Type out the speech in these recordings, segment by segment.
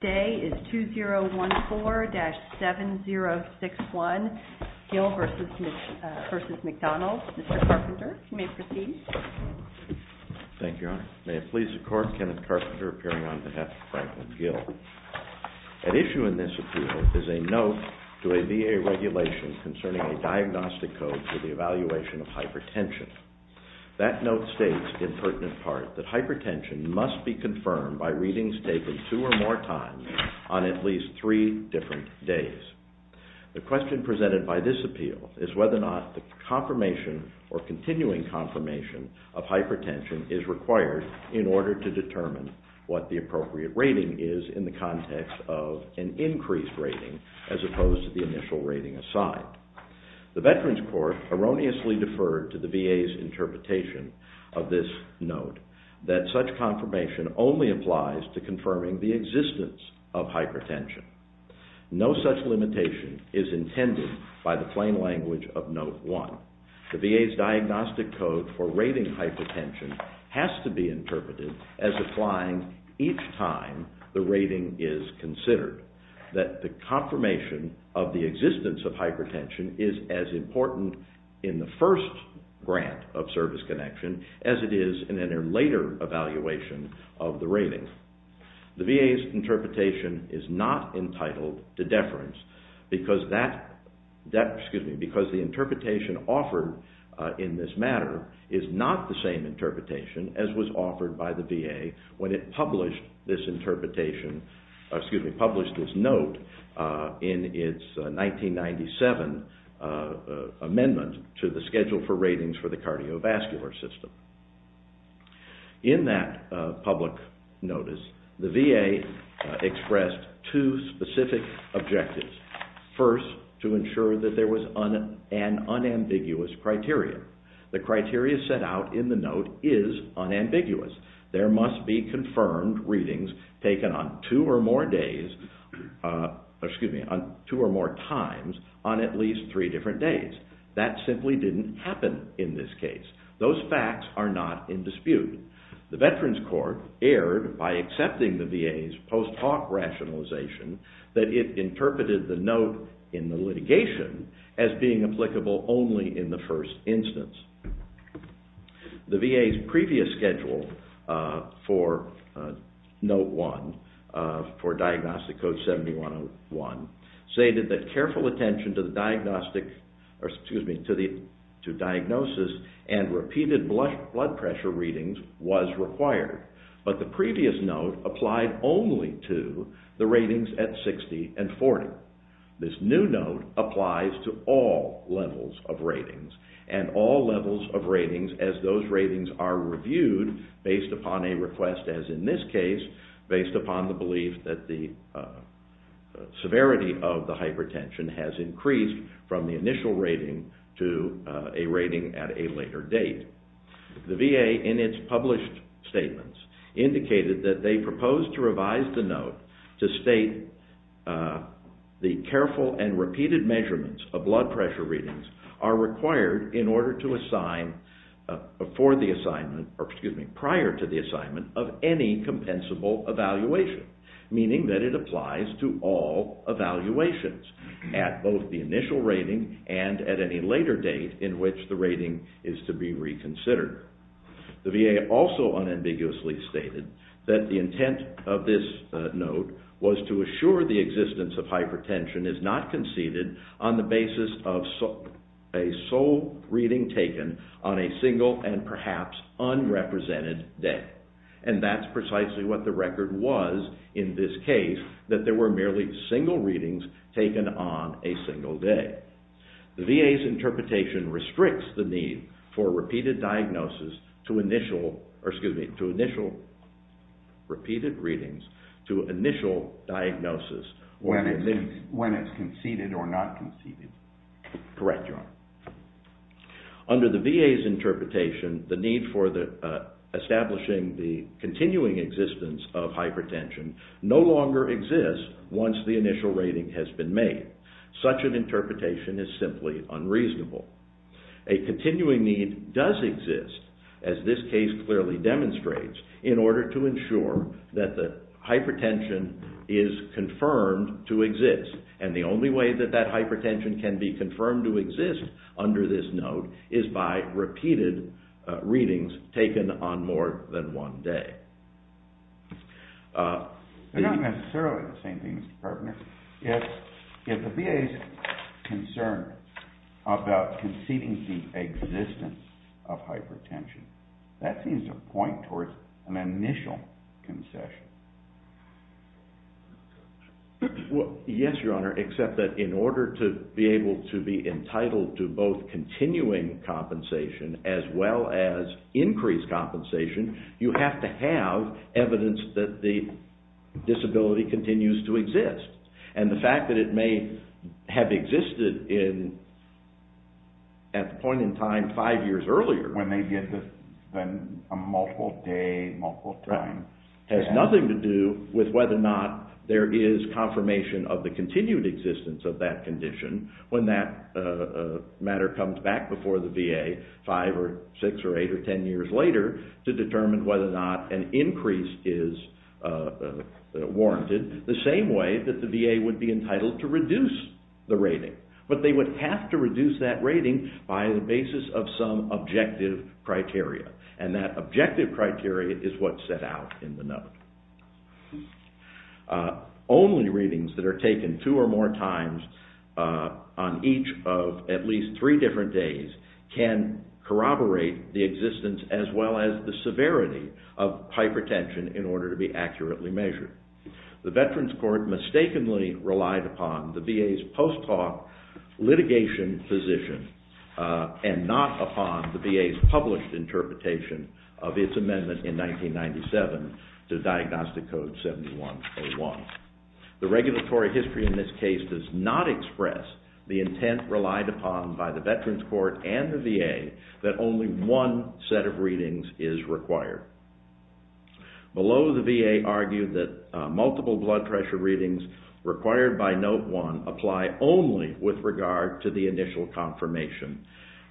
Today is 2014-7061, Gill v. McDonald. Mr. Carpenter, you may proceed. Thank you, Your Honor. May it please the Court, Kenneth Carpenter appearing on behalf of Franklin Gill. At issue in this appeal is a note to a VA regulation concerning a diagnostic code for the evaluation of hypertension. That note states, in pertinent part, that hypertension must be confirmed by readings taken two or more times on at least three different days. The question presented by this appeal is whether or not the confirmation or continuing confirmation of hypertension is required in order to determine what the appropriate rating is in the context of an increased rating as opposed to the initial rating aside. The Veterans Court erroneously deferred to the VA's interpretation of this note that such confirmation only applies to confirming the existence of hypertension. No such limitation is intended by the plain language of Note 1. The VA's diagnostic code for rating hypertension has to be interpreted as applying each time the rating is considered. That the confirmation of the existence of hypertension is as important in the first grant of service connection as it is in a later evaluation of the rating. The VA's interpretation is not entitled to deference because the interpretation offered in this matter is not the same interpretation as was offered by the VA when it published this interpretation, excuse me, published this note in its 1997 amendment to the schedule for ratings for the cardiovascular system. In that public notice the VA expressed two specific objectives. First, to ensure that there was an unambiguous criteria. The criteria set out in the note is unambiguous. There must be confirmed readings taken on two or more days, excuse me, on two or more times on at least three different days. That simply didn't happen in this case. Those facts are not in dispute. The Veterans Court erred by accepting the VA's post hoc rationalization that it interpreted the note in the litigation as being applicable only in the first instance. The VA's previous schedule for Note 1 for diagnostic code 7101 stated that careful attention to the blood pressure readings was required, but the previous note applied only to the ratings at 60 and 40. This new note applies to all levels of ratings and all levels of ratings as those ratings are reviewed based upon a request, as in this case, based upon the belief that the severity of the hypertension has increased from the initial rating to a rating at a later date. The VA, in its published statements, indicated that they proposed to revise the note to state the careful and repeated measurements of blood pressure readings are required in order to assign for the assignment, or excuse me, prior to the initial rating and at any later date in which the rating is to be reconsidered. The VA also unambiguously stated that the intent of this note was to assure the existence of hypertension is not conceded on the basis of a sole reading taken on a single and perhaps unrepresented day. And that's precisely what the record was in this case, that there were merely single readings taken on a single day. The VA's interpretation restricts the need for repeated diagnosis to initial repeated readings to initial diagnosis when it's conceded or not conceded. Correct, Your Honor. Under the VA's interpretation, the need for establishing the no longer exists once the initial rating has been made. Such an interpretation is simply unreasonable. A continuing need does exist, as this case clearly demonstrates, in order to ensure that the hypertension is confirmed to exist. And the only way that that hypertension can be confirmed to exist under this note is by repeated readings taken on more than one day. They're not necessarily the same thing, Mr. Carpenter. If the VA is concerned about conceding the existence of hypertension, that seems to point towards an initial concession. Well, yes, Your Honor, except that in order to be able to be entitled to both continuing compensation as well as increased compensation, you have to have evidence that the disability continues to exist. And the fact that it may have been a multiple day, multiple time, has nothing to do with whether or not there is confirmation of the continued existence of that condition when that matter comes back before the VA five or six or eight or ten years later to determine whether or not an increase is warranted, the same way that the VA would be entitled to reduce the basis of some objective criteria. And that objective criteria is what's set out in the note. Only readings that are taken two or more times on each of at least three different days can corroborate the existence as well as the severity of hypertension in order to be accurately measured. The Veterans Court mistakenly relied upon the VA's post hoc litigation position and not upon the VA's published interpretation of its amendment in 1997 to Diagnostic Code 7101. The regulatory history in this case does not express the intent relied upon by the Veterans Court and the VA that only one set of readings is required. Below, the VA argued that multiple blood pressure readings required by Note 1 apply only with regard to the initial confirmation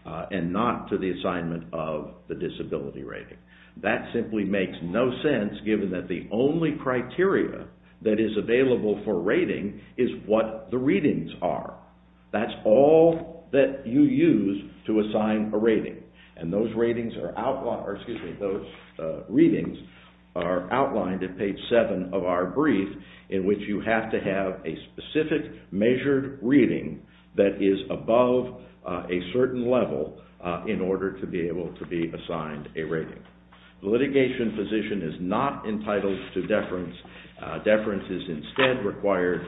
and not to the assignment of the disability rating. That simply makes no sense given that the only criteria that is available for rating is what the readings are. That's all that you use to assign a rating. And those readings are outlined at page 7 of our brief in which you have to have a specific measured reading that is above a certain level in order to be able to be assigned a rating. The litigation position is not entitled to deference. Deference is instead required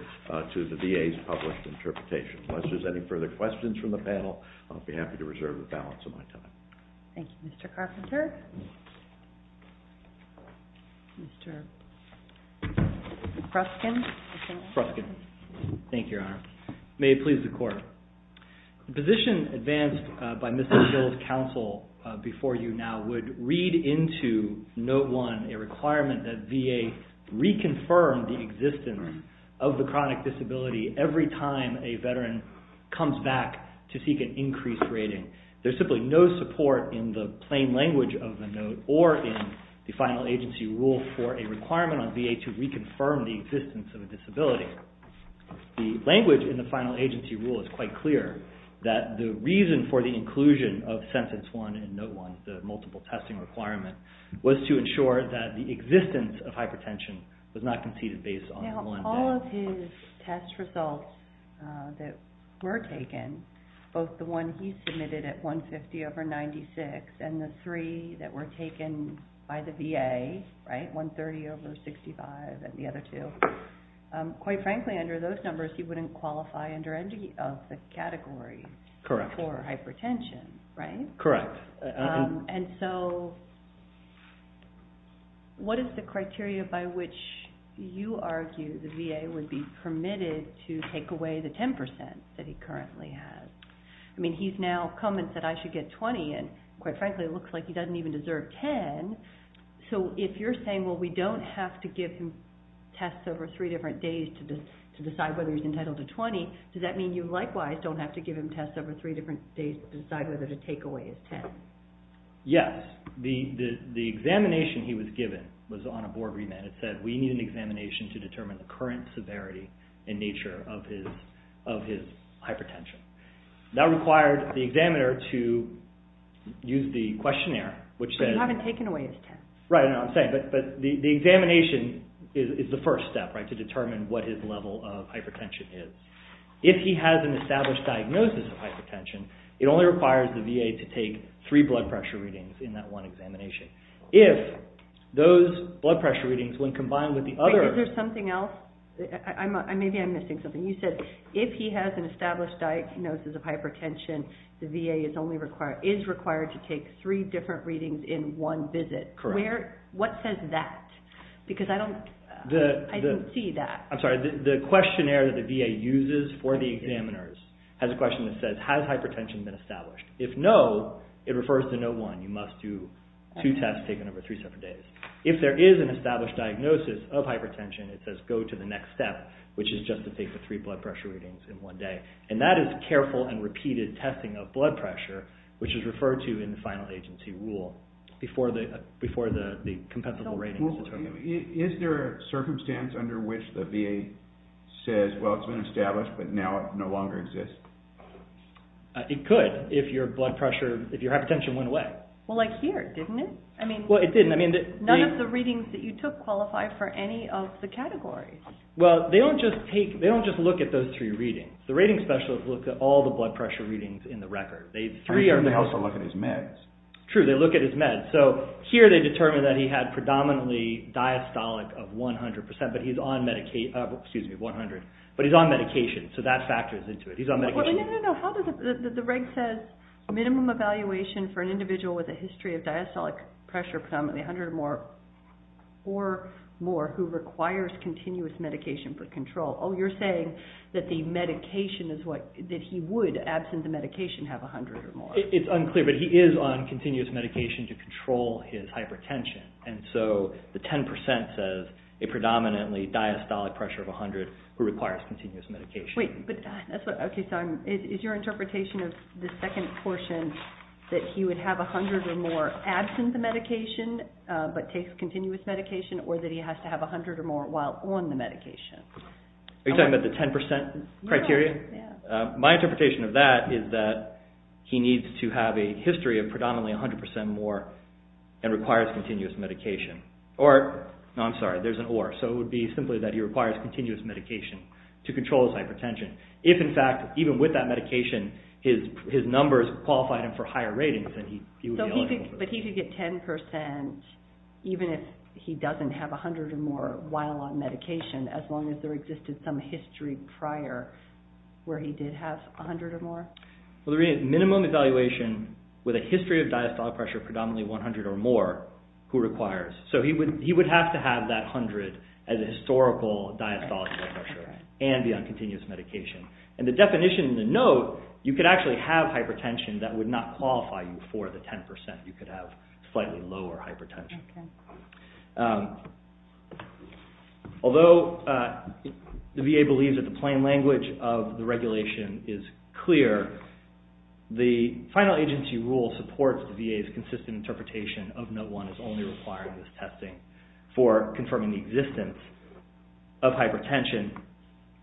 to the VA's published interpretation. Unless there's any further questions from the audience. The position advanced by Mr. Schill's counsel before you now would read into Note 1 a requirement that VA reconfirm the existence of the chronic disability every time a requirement on VA to reconfirm the existence of a disability. The language in the final agency rule is quite clear that the reason for the inclusion of Sentence 1 in Note 1, the multiple testing requirement, was to ensure that the existence of hypertension was not conceded based on one day. All of his test results that were taken, both the one he submitted at 150 over 96 and the three that were taken by the VA, 130 over 65 and the other two, quite frankly under those numbers he wouldn't qualify under any of the categories for hypertension, right? Correct. And so what is the criteria by which you argue the VA would be permitted to take away the 10% that he currently has? I mean he's now come and said I should get 20 and quite frankly it looks like he doesn't even deserve 10. So if you're saying well we don't have to give him tests over three different days to decide whether he's entitled to 20, does that mean you likewise don't have to give him tests over three different days to decide whether to take away his 10? Yes. The examination he was given was on a board remit. It said we need an examination to determine the current severity and nature of his hypertension. That required the examiner to use the questionnaire which said you haven't taken away his 10. Right, I know what I'm saying. But the examination is the first step to determine what his level of hypertension is. If he has an established diagnosis of hypertension, it only requires the VA to take three blood pressure readings in that one examination. If those blood pressure readings when combined with the other… Maybe I'm missing something. You said if he has an established diagnosis of hypertension, the VA is required to take three different readings in one visit. Correct. What says that? Because I don't see that. I'm sorry. The questionnaire that the VA uses for the examiners has a question that says has hypertension been established. If no, it refers to no one. You must do two tests taken over three separate days. If there is an established diagnosis of hypertension, it says go to the next step which is just to take the three blood pressure readings in one day. And that is careful and repeated testing of blood pressure which is referred to in the final agency rule before the compensable ratings. Is there a circumstance under which the VA says well it's been established but now it no longer exists? It could if your hypertension went away. Well like here, didn't it? Well it didn't. None of the readings that you took qualify for any of the categories. Well they don't just look at those three readings. The rating specialists look at all the blood pressure readings in the record. They also look at his meds. True, they look at his meds. So here they determine that he had predominantly diastolic of 100% but he's on medication so that factors into it. The reg says minimum evaluation for an individual with a history of diastolic pressure predominantly 100 or more who requires continuous medication for control. Oh, you're saying that he would, absent the medication, have 100 or more. It's unclear but he is on continuous medication to control his hypertension. And so the 10% says a predominantly diastolic pressure of 100 who requires continuous medication. Wait, is your interpretation of the second portion that he would have 100 or more absent the medication but takes continuous medication or that he has to have 100 or more while on the medication? Are you talking about the 10% criteria? My interpretation of that is that he needs to have a history of predominantly 100% more and requires continuous medication. No, I'm sorry, there's an or. So it would be simply that he requires continuous medication to control his hypertension. If in fact, even with that medication, his numbers qualified him for higher ratings then he would be eligible for this. But he could get 10% even if he doesn't have 100 or more while on medication as long as there existed some history prior where he did have 100 or more? Well, the minimum evaluation with a history of diastolic pressure predominantly 100 or more who requires. So he would have to have that 100 as a historical diastolic blood pressure and be on continuous medication. And the definition in the note, you could actually have hypertension that would not qualify you for the 10%. You could have slightly lower hypertension. Although the VA believes that the plain language of the regulation is clear, the final agency rule supports the VA's consistent interpretation of Note 1 as only requiring this testing for confirming the existence of hypertension.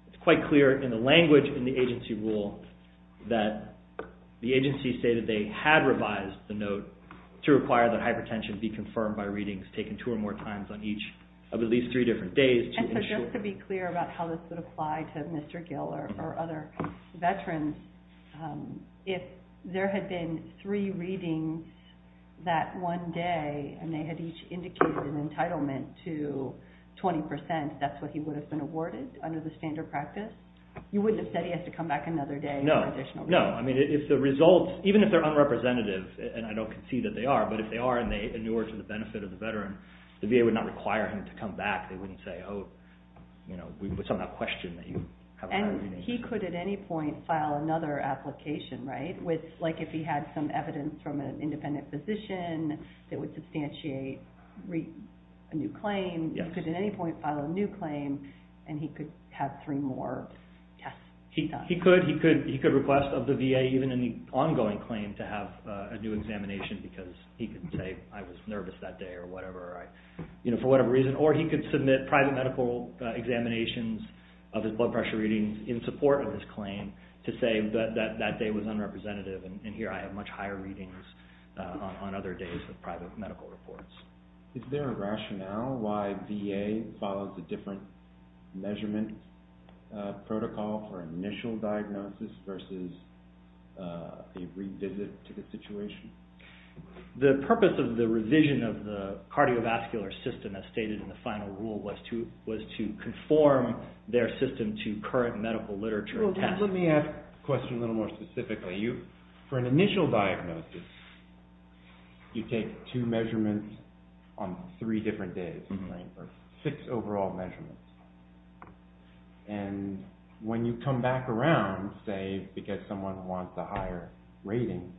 It's quite clear in the language in the agency rule that the agency stated they had revised the note to require that hypertension be confirmed by review. And they did require readings taken two or more times on each of at least three different days. And so just to be clear about how this would apply to Mr. Gill or other veterans, if there had been three readings that one day and they had each indicated an entitlement to 20%, that's what he would have been awarded under the standard practice? You wouldn't have said he has to come back another day for additional readings? No. No. I mean, if the results, even if they're unrepresentative, and I don't concede that they are, but if they are and they inure to the benefit of the veteran, the VA would not require him to come back. They wouldn't say, oh, you know, we put something on that question that you haven't had a reading. And he could at any point file another application, right? Like if he had some evidence from an independent physician that would substantiate a new claim, he could at any point file a new claim and he could have three more tests done. He could. He could request of the VA even an ongoing claim to have a new examination because he could say I was nervous that day or whatever, you know, for whatever reason. Or he could submit private medical examinations of his blood pressure readings in support of his claim to say that that day was unrepresentative and here I have much higher readings on other days of private medical reports. Is there a rationale why VA follows a different measurement protocol for initial diagnosis versus a revisit to the situation? The purpose of the revision of the cardiovascular system, as stated in the final rule, was to conform their system to current medical literature and tests. Let me ask the question a little more specifically. For an initial diagnosis, you take two measurements on three different days, six overall measurements. And when you come back around, say, because someone wants a higher rating,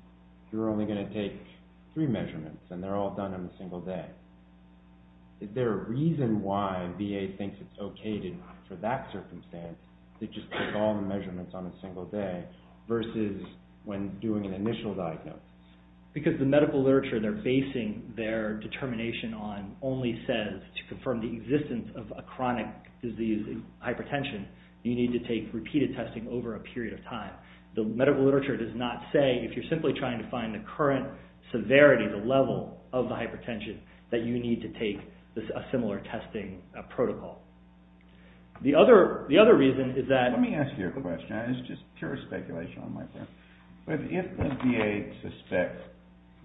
you're only going to take three measurements and they're all done in a single day. Is there a reason why VA thinks it's okay to, for that circumstance, to just take all the measurements on a single day versus when doing an initial diagnosis? Because the medical literature they're basing their determination on only says to confirm the existence of a chronic disease, hypertension, you need to take repeated testing over a period of time. The medical literature does not say, if you're simply trying to find the current severity, the level of the hypertension, that you need to take a similar testing protocol. The other reason is that... Let me ask you a question. It's just pure speculation on my part. If the VA suspects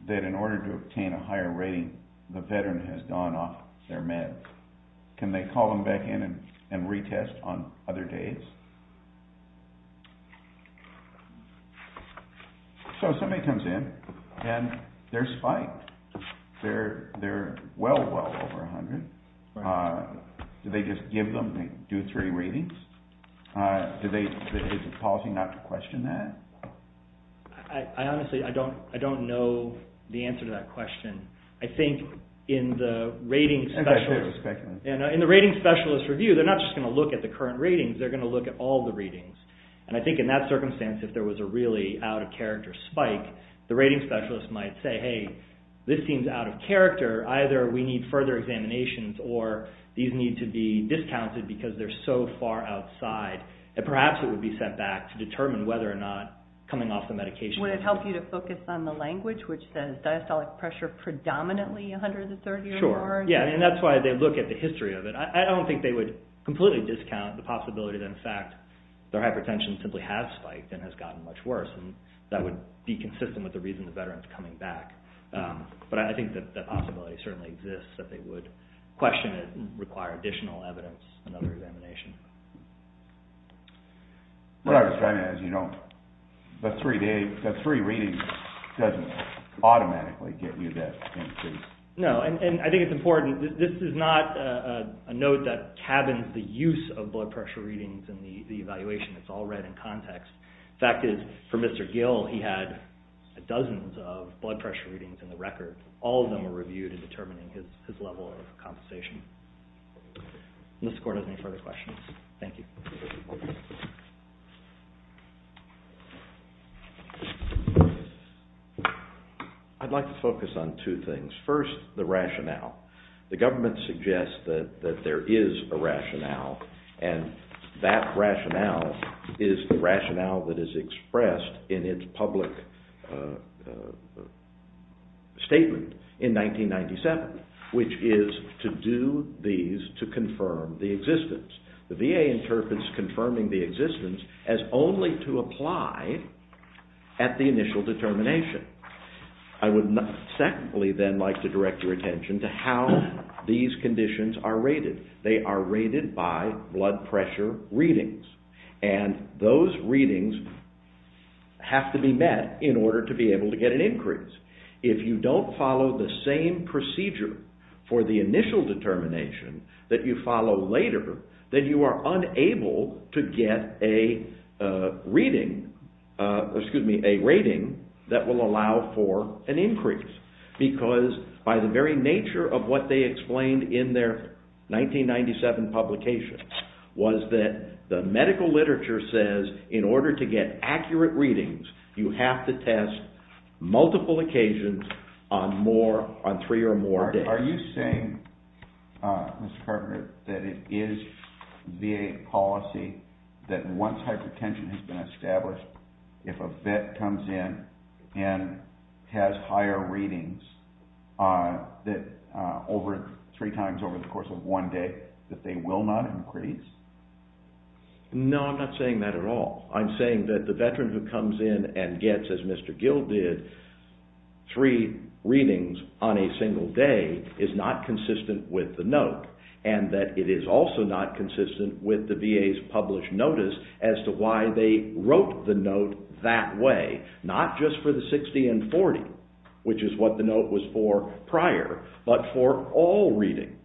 that in order to obtain a higher rating, the Veteran has gone off their meds, can they call them back in and retest on other days? So somebody comes in and they're spiked. They're well, well over 100. Do they just give them, do three ratings? Is it policy not to question that? I honestly don't know the answer to that question. I think in the rating specialist review, they're not just going to look at the current ratings, they're going to look at all the readings. And I think in that circumstance, if there was a really out-of-character spike, the rating specialist might say, hey, this seems out of character. Either we need further examinations or these need to be discounted because they're so far outside. And perhaps it would be set back to determine whether or not coming off the medication... Would it help you to focus on the language which says diastolic pressure predominantly 130 or more? Sure. Yeah, and that's why they look at the history of it. I don't think they would completely discount the possibility that, in fact, their hypertension simply has spiked and has gotten much worse, and that would be consistent with the reason the veteran is coming back. But I think that that possibility certainly exists, that they would question it and require additional evidence and other examination. But I was trying to, as you know, the three ratings doesn't automatically get you that increase. No, and I think it's important. This is not a note that cabins the use of blood pressure readings in the evaluation. It's all read in context. The fact is, for Mr. Gill, he had dozens of blood pressure readings in the record. All of them were reviewed in determining his level of compensation. Mr. Kordes, any further questions? Thank you. I'd like to focus on two things. First, the rationale. The government suggests that there is a rationale, and that rationale is the rationale that is expressed in its public statement in 1997, which is to do these to confirm the existence. The VA interprets confirming the existence as only to apply at the initial determination. I would secondly then like to direct your attention to how these conditions are rated. They are rated by blood pressure readings, and those readings have to be met in order to be able to get an increase. If you don't follow the same procedure for the initial determination that you follow later, then you are unable to get a rating that will allow for an increase. Because by the very nature of what they explained in their 1997 publication was that the medical literature says in order to get accurate readings, you have to test multiple occasions on three or more days. Are you saying, Mr. Carpenter, that it is VA policy that once hypertension has been established, if a vet comes in and has higher readings three times over the course of one day, that they will not increase? No, I'm not saying that at all. I'm saying that the veteran who comes in and gets, as Mr. Gill did, three readings on a single day is not consistent with the note, and that it is also not consistent with the VA's published notice as to why they wrote the note that way, not just for the 60 and 40, which is what the note was for prior, but for all readings.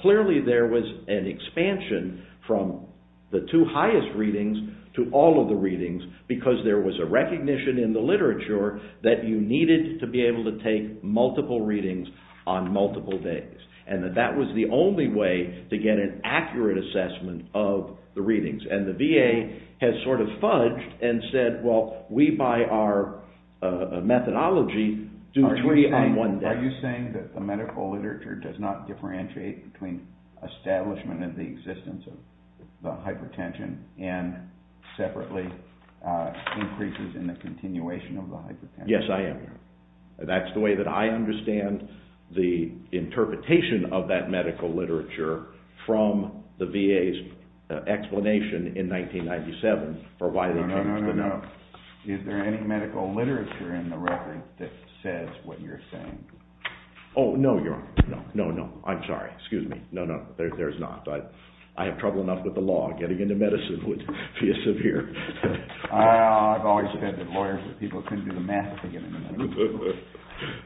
Clearly there was an expansion from the two highest readings to all of the readings because there was a recognition in the literature that you needed to be able to take multiple readings on multiple days, and that that was the only way to get an accurate assessment of the readings. And the VA has sort of fudged and said, well, we by our methodology do three on one day. Are you saying that the medical literature does not differentiate between establishment of the existence of the hypertension and separately increases in the continuation of the hypertension? Yes, I am. That's the way that I understand the interpretation of that medical literature from the VA's explanation in 1997 for why they changed the note. Is there any medical literature in the record that says what you're saying? Oh, no, Your Honor. No, no, I'm sorry. Excuse me. No, no, there's not. I have trouble enough with the law. Getting into medicine would be a severe problem. I've always said that lawyers are people who couldn't do the math to get into medicine.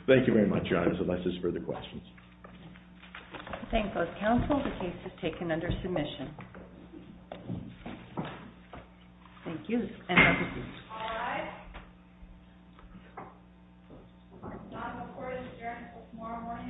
Thank you very much, Your Honor, unless there's further questions. I thank both counsel. The case is taken under submission. Thank you, and have a good evening. All right. The court is adjourned until tomorrow morning at 10.